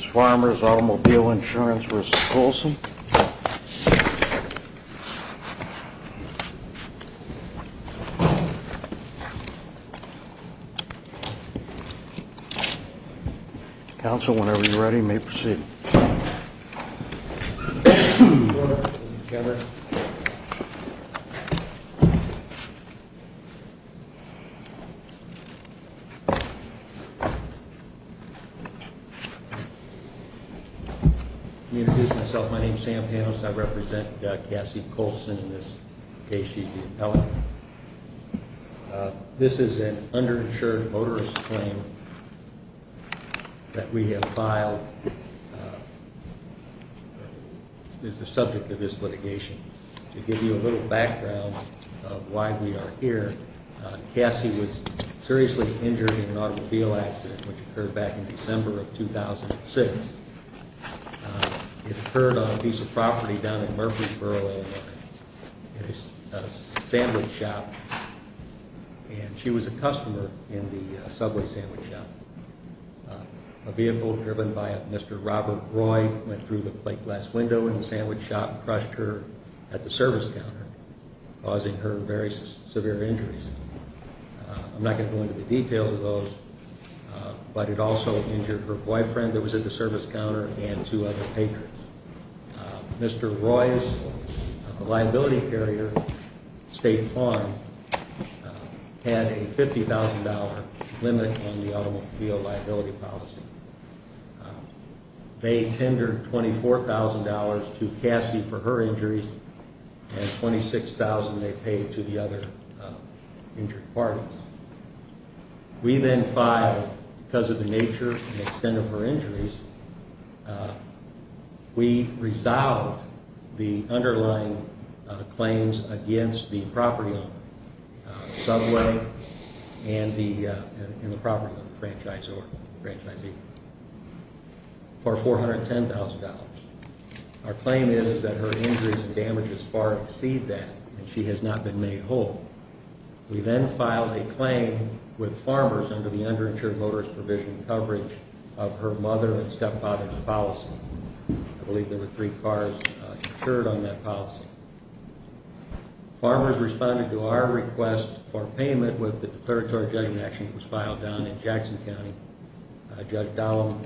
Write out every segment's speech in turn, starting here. Farmers Automobile Insurance v. Coulson Council, whenever you're ready, may proceed. Introduce myself. My name is Sam Panos. I represent Cassie Coulson in this case. She's the appellate. This is an underinsured motorist claim that we have filed. It is the subject of this litigation. To give you a little background of why we are here, Cassie was seriously injured in an automobile accident which occurred back in December of 2006. It occurred on a piece of property down in Murfreesboro, Illinois. It is a sandwich shop and she was a customer in the subway sandwich shop. A vehicle driven by Mr. Robert Roy went through the plate glass window in the sandwich shop and crushed her at the service counter causing her very severe injuries. I'm not going to go into the details of those, but it also injured her boyfriend that was at the service counter and two other patrons. Mr. Roy's liability carrier, State Farm, had a $50,000 limit on the automobile liability policy. They tendered $24,000 to Cassie for her injuries and $26,000 they paid to the other injured parties. We then filed, because of the nature and extent of her injuries, we resolved the underlying claims against the property owner, subway and the property franchisee for $410,000. Our claim is that her injuries and damages far exceed that and she has not been made whole. We then filed a claim with Farmers under the underinsured motorist provision coverage of her mother and stepfather's policy. I believe there were three cars insured on that policy. Farmers responded to our request for payment with the declaratory judgment action that was filed down in Jackson County. Judge Dahlem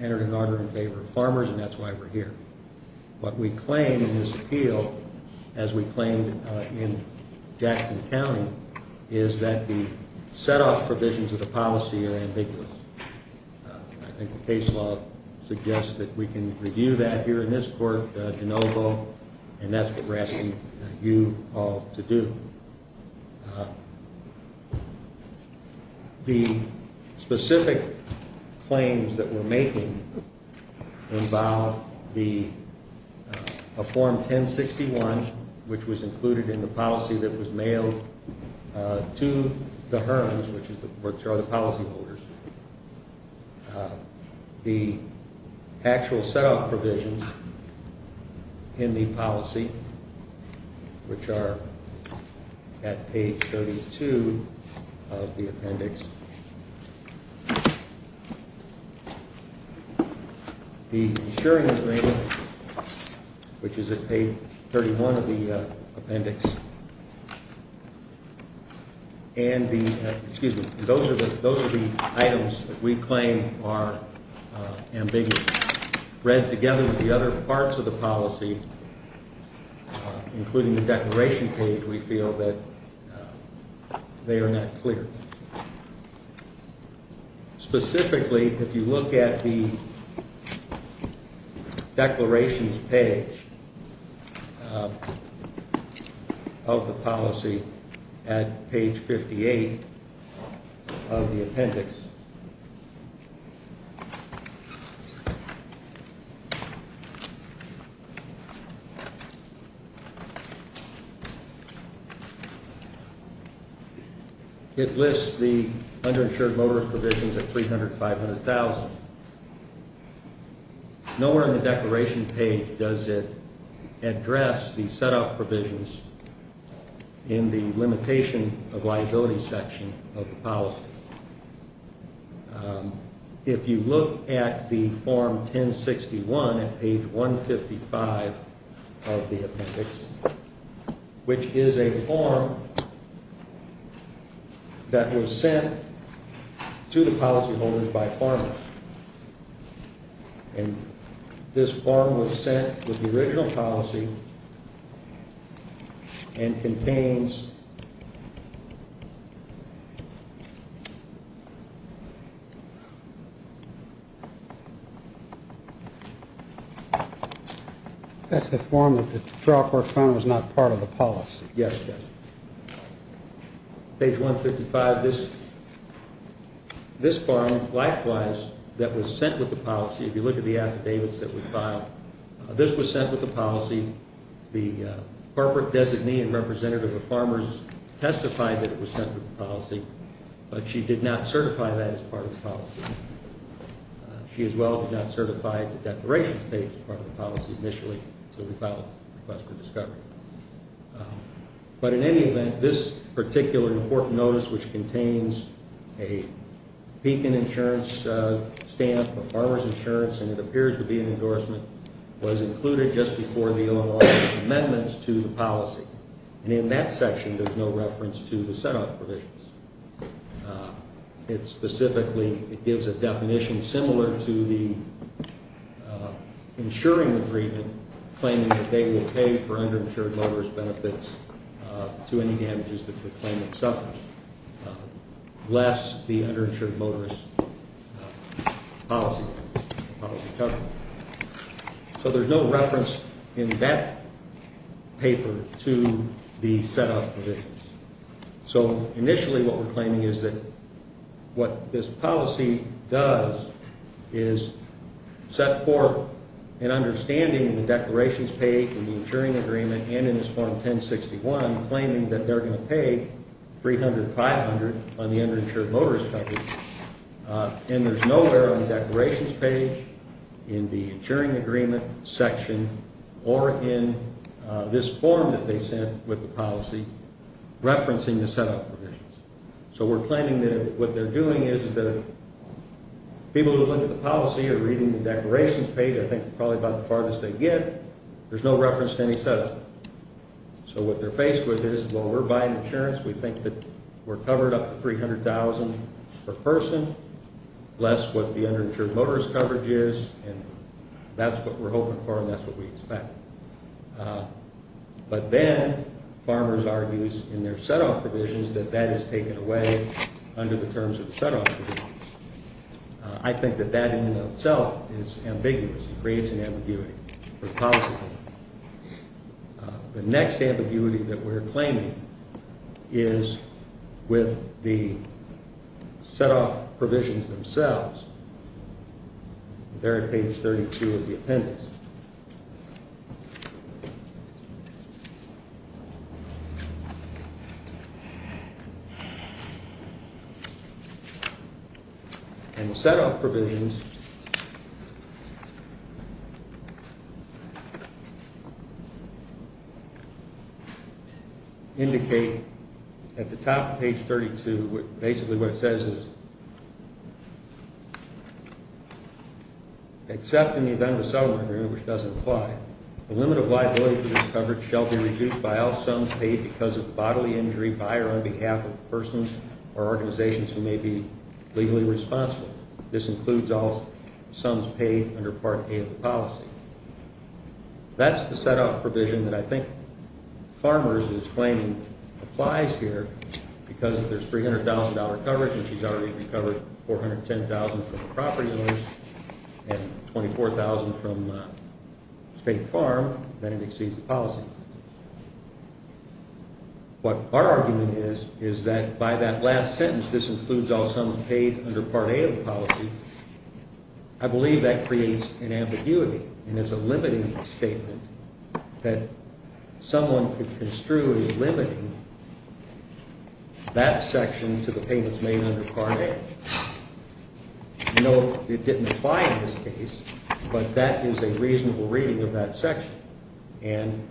entered an order in favor of Farmers and that's why we're here. What we claim in this appeal, as we claimed in Jackson County, is that the set-off provisions of the policy are ambiguous. I think the case law suggests that we can review that here in this court, DeNovo, and that's what we're asking you all to do. The specific claims that we're making involve a Form 1061, which was included in the policy that was mailed to the Hearns, which are the policyholders. The actual set-off provisions in the policy, which are at page 32 of the appendix. The insuring agreement, which is at page 31 of the appendix, and the, excuse me, those are the items that we claim are ambiguous. Read together with the other parts of the policy, including the declaration page, we feel that they are not clear. Specifically, if you look at the declarations page of the policy at page 58 of the appendix, it lists the underinsured motorist provisions at $300,000, $500,000. Nowhere in the declaration page does it address the set-off provisions in the limitation of liability section of the policy. If you look at the Form 1061 at page 155 of the appendix, which is a form that was sent to the policyholders by Foreman. And this form was sent with the original policy and contains. That's the form that the trial court found was not part of the policy. Yes. Page 155, this form, likewise, that was sent with the policy. If you look at the affidavits that we filed, this was sent with the policy. The corporate designee and representative of farmers testified that it was sent with the policy, but she did not certify that as part of the policy. She as well did not certify the declarations page as part of the policy initially, so we filed a request for discovery. But in any event, this particular important notice, which contains a beacon insurance stamp for farmers insurance, and it appears to be an endorsement, was included just before the O&R amendments to the policy. And in that section, there's no reference to the set-off provisions. Specifically, it gives a definition similar to the insuring agreement claiming that they will pay for underinsured motorist benefits to any damages that the claimant suffers, less the underinsured motorist policy coverage. So there's no reference in that paper to the set-off provisions. So initially, what we're claiming is that what this policy does is set forth an understanding of the declarations page in the insuring agreement and in this form 1061 claiming that they're going to pay $300,000, $500,000 on the underinsured motorist coverage. And there's nowhere on the declarations page, in the insuring agreement section, or in this form that they sent with the policy referencing the set-off provisions. So we're claiming that what they're doing is the people who look at the policy are reading the declarations page, I think it's probably about the farthest they get, there's no reference to any set-off. So what they're faced with is, well, we're buying insurance, we think that we're covered up to $300,000 per person, less what the underinsured motorist coverage is, and that's what we're hoping for and that's what we expect. But then, farmers argue in their set-off provisions that that is taken away under the terms of the set-off provisions. I think that that in and of itself is ambiguous, it creates an ambiguity. The next ambiguity that we're claiming is with the set-off provisions themselves. They're on page 32 of the appendix. And the set-off provisions indicate at the top of page 32, basically what it says is, except in the event of a settlement agreement which doesn't apply, the limit of liability for this coverage shall be reduced by all sums paid because of bodily injury by or on behalf of persons or organizations who may be legally responsible. This includes all sums paid under Part A of the policy. That's the set-off provision that I think farmers is claiming applies here, because if there's $300,000 coverage and she's already recovered $410,000 from the property owners and $24,000 from State Farm, then it exceeds the policy. What our argument is, is that by that last sentence, this includes all sums paid under Part A of the policy, I believe that creates an ambiguity and it's a limiting statement that someone could construe as limiting that section to the payments made under Part A. No, it didn't apply in this case, but that is a reasonable reading of that section. And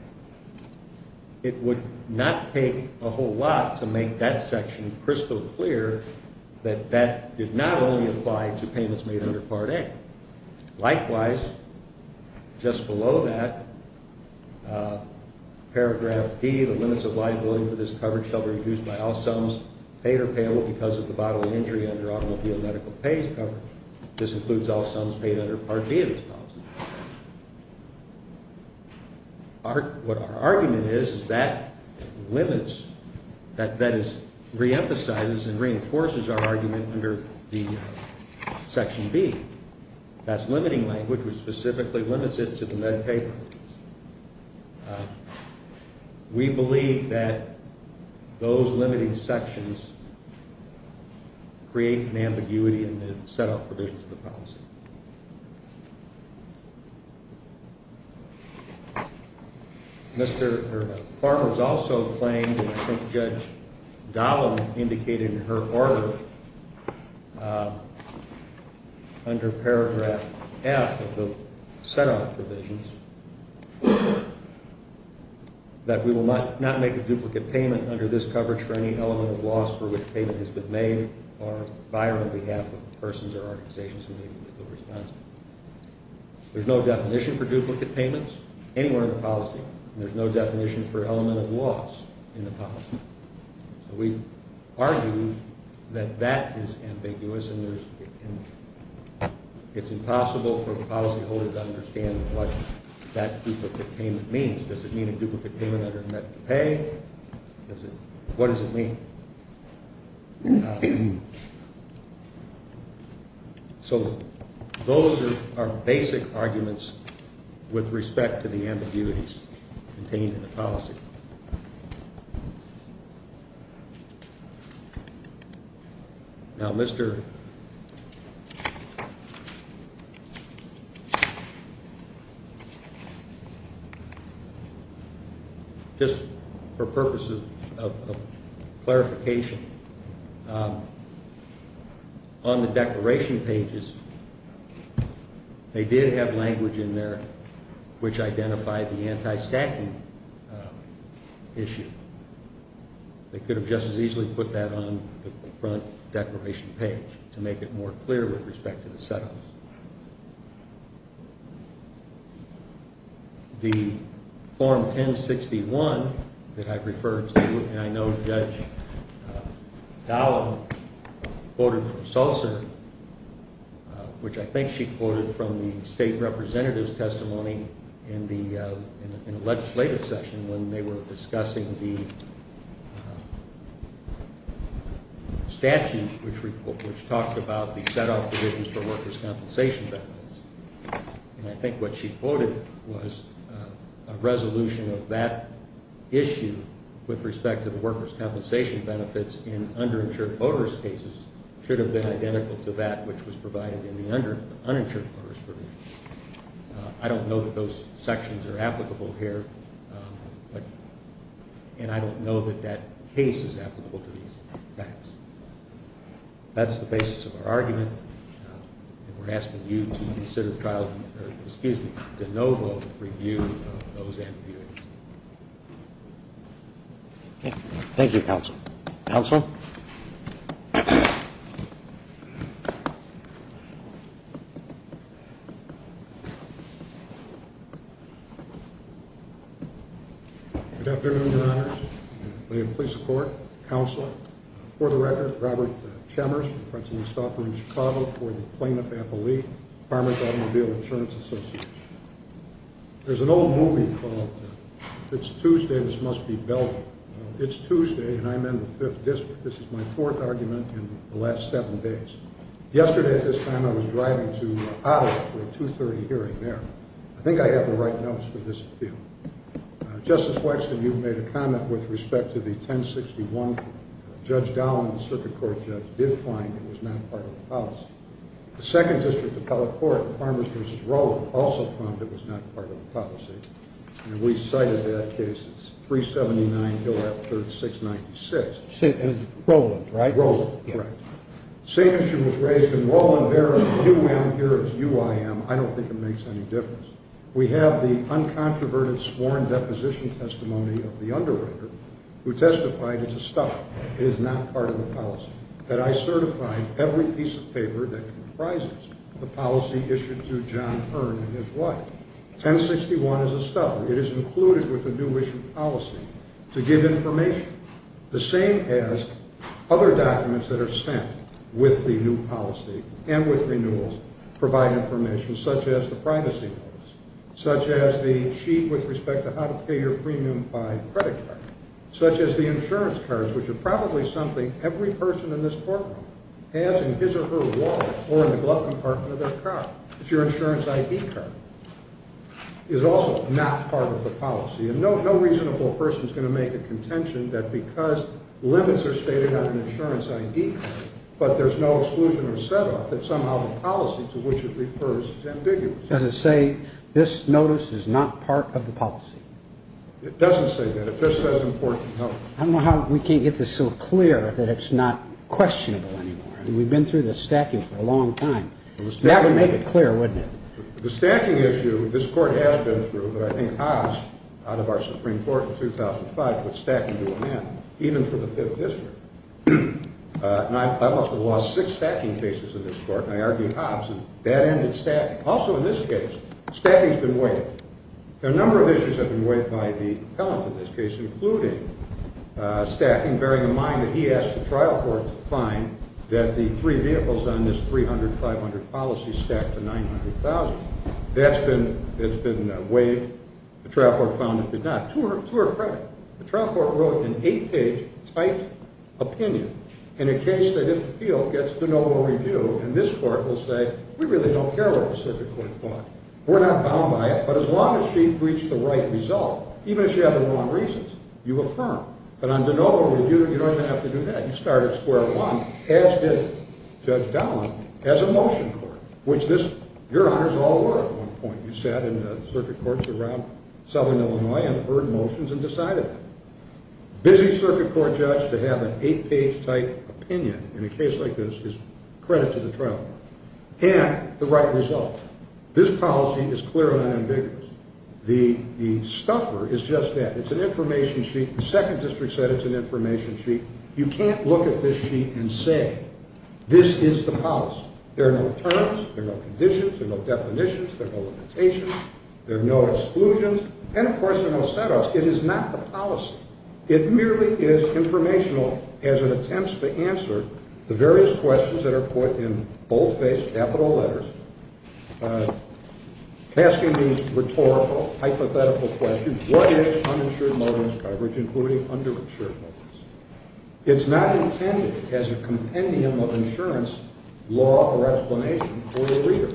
it would not take a whole lot to make that section crystal clear that that did not only apply to payments made under Part A. Likewise, just below that, Paragraph B, the limits of liability for this coverage shall be reduced by all sums paid or payable because of the bodily injury under automobile medical pays coverage. This includes all sums paid under Part B of this policy. What our argument is, is that limits, that is, reemphasizes and reinforces our argument under the Section B. That's limiting language, which specifically limits it to the medical pay. We believe that those limiting sections create an ambiguity in the set-off provisions of the policy. Mr. Farmer has also claimed, and I think Judge Dolan indicated in her order, under Paragraph F of the set-off provisions, that we will not make a duplicate payment under this coverage for any element of loss for which payment has been made or buyer on behalf of persons or organizations who may be responsible. There's no definition for duplicate payments anywhere in the policy, and there's no definition for element of loss in the policy. So we argue that that is ambiguous, and it's impossible for a policyholder to understand what that duplicate payment means. Does it mean a duplicate payment under medical pay? What does it mean? So those are basic arguments with respect to the ambiguities contained in the policy. Now, Mr. – just for purposes of clarification, on the declaration pages, they did have language in there which identified the anti-stacking issue. They could have just as easily put that on the front declaration page to make it more clear with respect to the set-offs. The Form 1061 that I referred to, and I know Judge Dolan quoted from Sulzer, which I think she quoted from the State Representative's testimony in the legislative session when they were discussing the statute which talked about the set-off provisions for workers' compensation benefits. And I think what she quoted was a resolution of that issue with respect to the workers' compensation benefits in underinsured voters' cases should have been identical to that which was provided in the uninsured voters' provisions. I don't know that those sections are applicable here, and I don't know that that case is applicable to these facts. That's the basis of our argument, and we're asking you to consider trial – excuse me, de novo review of those ambiguities. Thank you, Counsel. Counsel? Good afternoon, Your Honors. May it please the Court, Counsel, for the record, Robert Chemers, from the Principal's Office in Chicago for the Plaintiff Appellee, Farmers Automobile Insurance Association. There's an old movie called It's Tuesday, This Must Be Belgium. It's Tuesday, and I'm in the Fifth District. This is my fourth argument in the last seven days. Yesterday at this time, I was driving to Ottawa for a 2.30 hearing there. I think I have the right notes for this appeal. Justice Wexton, you've made a comment with respect to the 1061. Judge Dowling, the Circuit Court judge, did find it was not part of the policy. The Second District Appellate Court, Farmers v. Rowland, also found it was not part of the policy, and we cited that case as 379, Hill-Rapford, 696. And it's Rowland, right? Same issue was raised in Rowland-Vera, U-M, here it's U-I-M. I don't think it makes any difference. We have the uncontroverted sworn deposition testimony of the underwriter, who testified it's a stuff. It is not part of the policy. But I certified every piece of paper that comprises the policy issued to John Hearn and his wife. 1061 is a stuff. It is included with the new issue policy to give information. The same as other documents that are sent with the new policy and with renewals provide information, such as the privacy notice, such as the sheet with respect to how to pay your premium by credit card, such as the insurance cards, which are probably something every person in this courtroom has in his or her wallet or in the glove compartment of their car. It's your insurance I.D. card. It is also not part of the policy. And no reasonable person is going to make a contention that because limits are stated on an insurance I.D. card, but there's no exclusion or set-up, that somehow the policy to which it refers is ambiguous. Does it say this notice is not part of the policy? It doesn't say that. It just says important health. I don't know how we can't get this so clear that it's not questionable anymore. We've been through this stacking for a long time. That would make it clear, wouldn't it? The stacking issue, this court has been through, but I think Hobbs, out of our Supreme Court in 2005, put stacking to an end, even for the Fifth District. And I must have lost six stacking cases in this court, and I argued Hobbs, and that ended stacking. Also in this case, stacking has been waived. A number of issues have been waived by the appellant in this case, including stacking, bearing in mind that he asked the trial court to find that the three vehicles on this 300-500 policy stack to 900,000. That's been waived. The trial court found it did not. To her credit, the trial court wrote an eight-page typed opinion in a case that, if appealed, gets de novo review, and this court will say, we really don't care what the circuit court thought. We're not bound by it, but as long as she reached the right result, even if she had the wrong reasons, you affirm. But on de novo review, you don't even have to do that. You start at square one, as did Judge Dowling, as a motion court, which your honors all were at one point. You sat in the circuit courts around Southern Illinois and heard motions and decided that. Busy circuit court judge to have an eight-page typed opinion in a case like this is credit to the trial court. And the right result. This policy is clear and unambiguous. The stuffer is just that. It's an information sheet. The Second District said it's an information sheet. You can't look at this sheet and say this is the policy. There are no terms. There are no conditions. There are no definitions. There are no limitations. There are no exclusions. And, of course, there are no set-ups. It is not the policy. It merely is informational as an attempt to answer the various questions that are put in bold-faced capital letters, asking these rhetorical, hypothetical questions. What is uninsured motives coverage, including underinsured motives? It's not intended as a compendium of insurance law or explanation for the reader.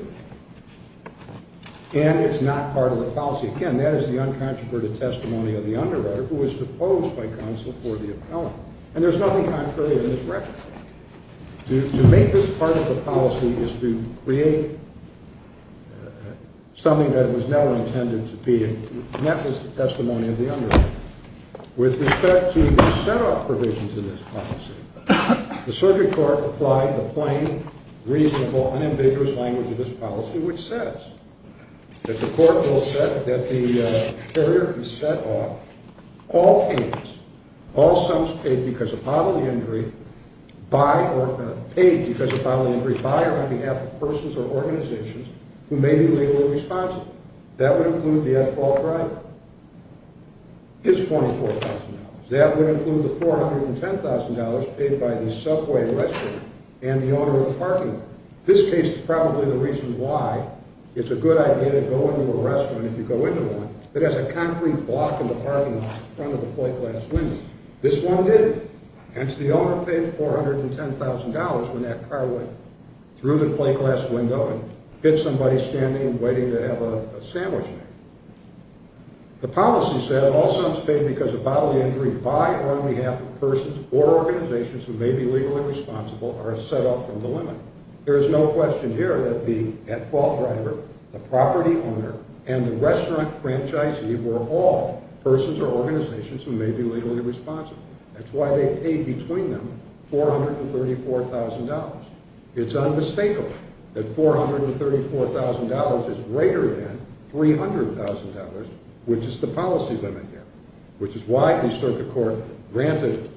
And it's not part of the policy. Again, that is the uncontroverted testimony of the underwriter who was proposed by counsel for the appellant. And there's nothing contrary in this record. To make this part of the policy is to create something that it was never intended to be, and that was the testimony of the underwriter. With respect to the set-off provisions of this policy, the Surgery Court applied the plain, reasonable, unambiguous language of this policy, which says that the court will set that the carrier is set off all payments, all sums paid because of bodily injury by or on behalf of persons or organizations who may be legally responsible. That would include the at-fault driver. It's $24,000. That would include the $410,000 paid by the subway, restaurant, and the owner of the parking lot. This case is probably the reason why it's a good idea to go into a restaurant, if you go into one, that has a concrete block in the parking lot in front of the plate glass window. This one didn't. Hence, the owner paid $410,000 when that car went through the plate glass window and hit somebody standing and waiting to have a sandwich. The policy says all sums paid because of bodily injury by or on behalf of persons or organizations who may be legally responsible are set off from the limit. There is no question here that the at-fault driver, the property owner, and the restaurant franchisee were all persons or organizations who may be legally responsible. That's why they paid between them $434,000. It's unmistakable that $434,000 is greater than $300,000, which is the policy limit here, which is why the Circuit Court granted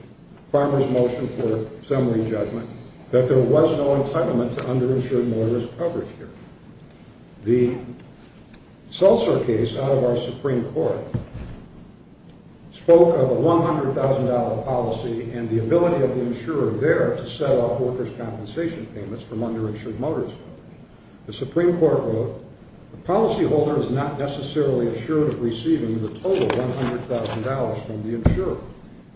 Farmer's motion for summary judgment that there was no entitlement to underinsured motorist coverage here. The Seltzer case out of our Supreme Court spoke of a $100,000 policy and the ability of the insurer there to set off workers' compensation payments from underinsured motorists. The Supreme Court ruled the policyholder is not necessarily assured of receiving the total $100,000 from the insurer,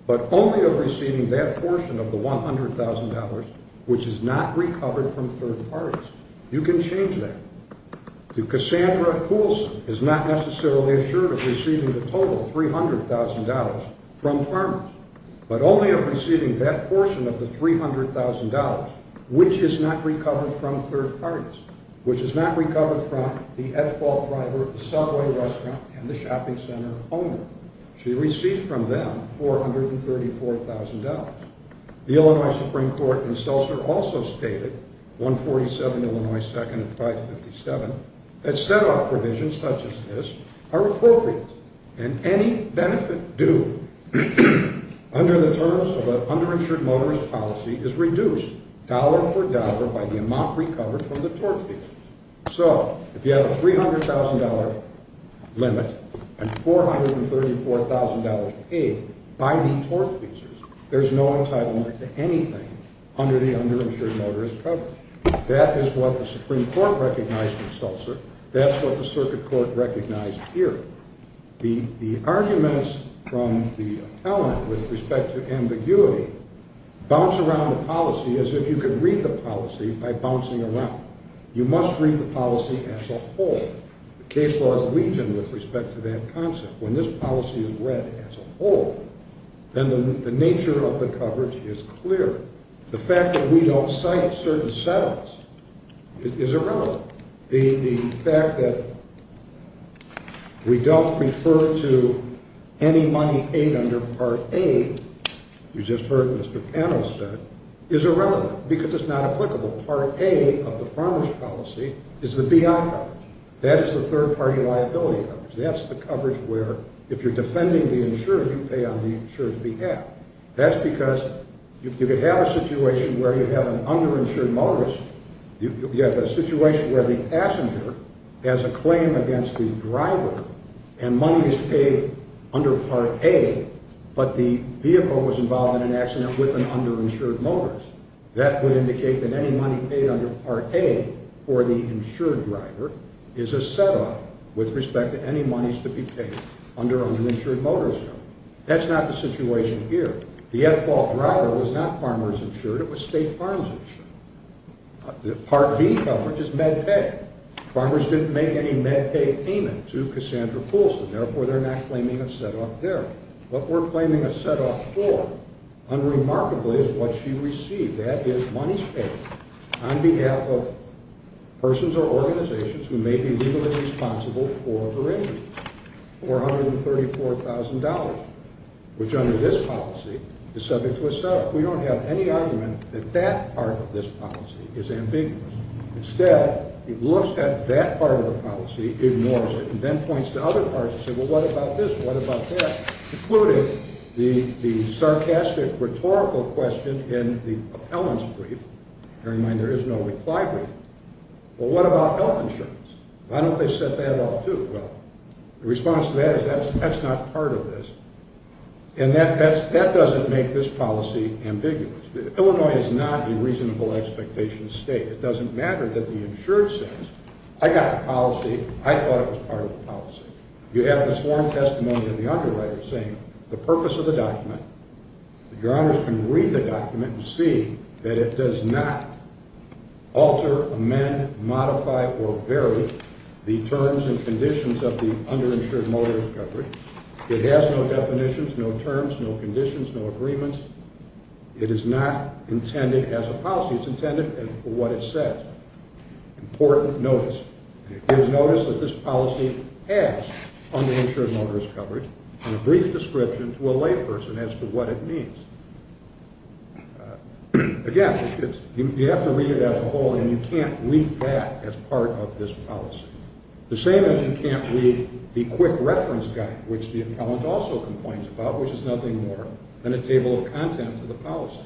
but only of receiving that portion of the $100,000 which is not recovered from third parties. You can change that. Cassandra Poulsen is not necessarily assured of receiving the total $300,000 from Farmers, but only of receiving that portion of the $300,000 which is not recovered from third parties, which is not recovered from the at-fault driver, the subway restaurant, and the shopping center owner. She received from them $434,000. The Illinois Supreme Court in Seltzer also stated, 147 Illinois 2nd and 557, that set-off provisions such as this are appropriate and any benefit due under the terms of an underinsured motorist policy is reduced dollar for dollar by the amount recovered from the tort fees. So, if you have a $300,000 limit and $434,000 paid by the tort fees, there's no entitlement to anything under the underinsured motorist coverage. That's what the circuit court recognized here. The arguments from the appellant with respect to ambiguity bounce around the policy as if you could read the policy by bouncing around. You must read the policy as a whole. The case law is legion with respect to that concept. When this policy is read as a whole, then the nature of the coverage is clear. The fact that we don't cite certain settles is irrelevant. The fact that we don't refer to any money paid under Part A, you just heard what Mr. Cannell said, is irrelevant because it's not applicable. Part A of the farmer's policy is the BI coverage. That is the third-party liability coverage. That's the coverage where if you're defending the insurer, you pay on the insurer's behalf. That's because you could have a situation where you have an underinsured motorist, you have a situation where the passenger has a claim against the driver and money is paid under Part A, but the vehicle was involved in an accident with an underinsured motorist. That would indicate that any money paid under Part A for the insured driver is a set-off with respect to any monies to be paid under an insured motorist. That's not the situation here. The at-fault driver was not farmers insured, it was state farms insured. Part B coverage is med-pay. Farmers didn't make any med-pay payment to Cassandra Coulson, therefore they're not claiming a set-off there. What we're claiming a set-off for, unremarkably, is what she received. That is monies paid on behalf of persons or organizations who may be legally responsible for her injuries, $434,000, which under this policy is subject to a set-off. We don't have any argument that that part of this policy is ambiguous. Instead, it looks at that part of the policy, ignores it, and then points to other parts and says, well, what about this, what about that, including the sarcastic rhetorical question in the appellant's brief. Bear in mind there is no reply brief. Well, what about health insurance? Why don't they set that off too? Well, the response to that is that's not part of this. And that doesn't make this policy ambiguous. Illinois is not a reasonable expectation state. It doesn't matter that the insured says, I got the policy, I thought it was part of the policy. You have the sworn testimony of the underwriter saying the purpose of the document, your honors can read the document and see that it does not alter, amend, modify, or vary the terms and conditions of the underinsured motorist coverage. It has no definitions, no terms, no conditions, no agreements. It is not intended as a policy. It's intended for what it says, important notice. And it gives notice that this policy has underinsured motorist coverage and a brief description to a layperson as to what it means. Again, you have to read it as a whole, and you can't read that as part of this policy. The same as you can't read the quick reference guide, which the appellant also complains about, which is nothing more than a table of contents of the policy.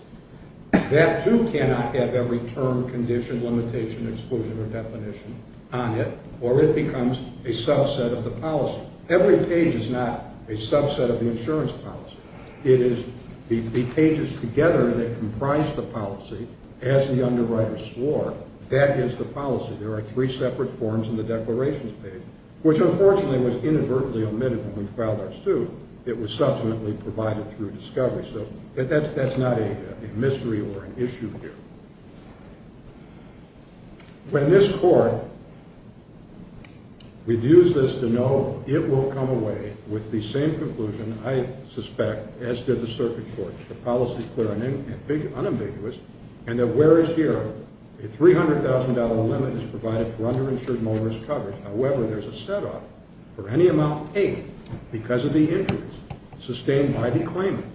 That too cannot have every term, condition, limitation, exclusion, or definition on it, or it becomes a subset of the policy. Every page is not a subset of the insurance policy. It is the pages together that comprise the policy as the underwriter swore. That is the policy. There are three separate forms in the declarations page, which unfortunately was inadvertently omitted when we filed our suit. It was subsequently provided through discovery. So that's not a mystery or an issue here. When this court reviews this to know it will come away with the same conclusion, I suspect, as did the circuit court, the policy clear and unambiguous, and that where is here, a $300,000 limit is provided for underinsured motorist coverage. However, there's a setup for any amount paid because of the interest sustained by the claimant,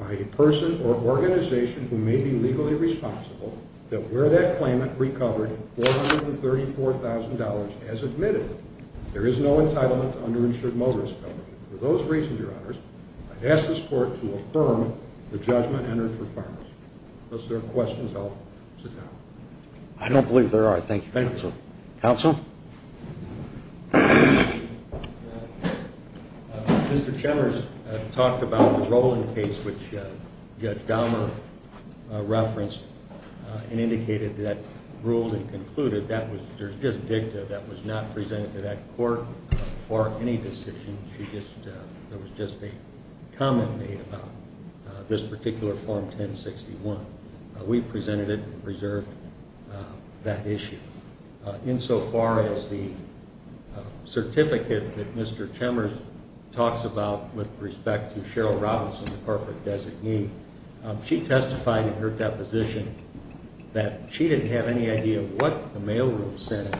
by a person or organization who may be legally responsible that where that claimant recovered $434,000 as admitted, there is no entitlement to underinsured motorist coverage. For those reasons, Your Honors, I ask this court to affirm the judgment entered for farmers. If there are questions, I'll sit down. I don't believe there are. Thank you. Counsel? Mr. Chemers talked about the Rowland case, which Judge Dahmer referenced and indicated that ruled and concluded that there's just dicta. That was not presented to that court for any decision. There was just a comment made about this particular Form 1061. We presented it and preserved that issue. Insofar as the certificate that Mr. Chemers talks about with respect to Cheryl Robinson, the corporate designee, she testified in her deposition that she didn't have any idea of what the mailroom said.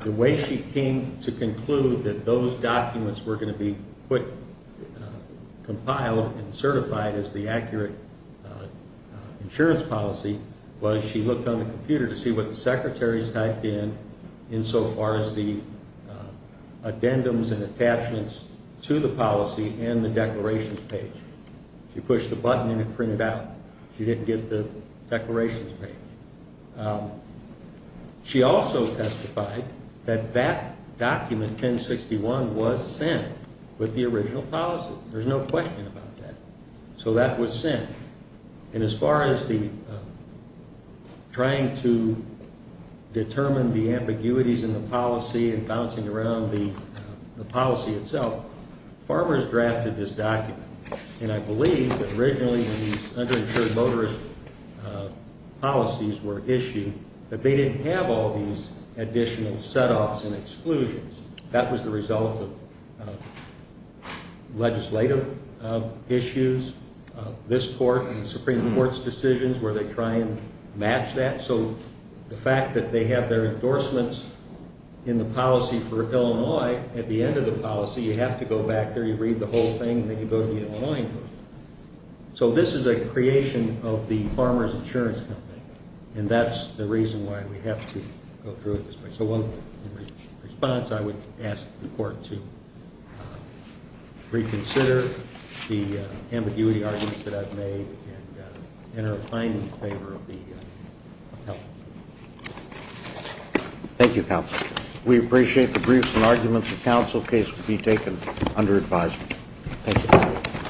The way she came to conclude that those documents were going to be compiled and certified as the accurate insurance policy was she looked on the computer to see what the secretaries typed in, insofar as the addendums and attachments to the policy and the declarations page. She pushed a button and it printed out. She didn't get the declarations page. She also testified that that document, 1061, was sent with the original policy. There's no question about that. So that was sent. And as far as the trying to determine the ambiguities in the policy and bouncing around the policy itself, farmers drafted this document. And I believe that originally when these underinsured motorist policies were issued that they didn't have all these additional setoffs and exclusions. That was the result of legislative issues. This court and the Supreme Court's decisions where they try and match that. So the fact that they have their endorsements in the policy for Illinois, at the end of the policy you have to go back there, you read the whole thing, and then you go to the Illinoisian group. So this is a creation of the Farmers Insurance Company. And that's the reason why we have to go through it this way. So in response, I would ask the court to reconsider the ambiguity arguments that I've made and enter a fine in favor of the help. Thank you, counsel. We appreciate the briefs and arguments. The counsel case will be taken under advisement. Thank you.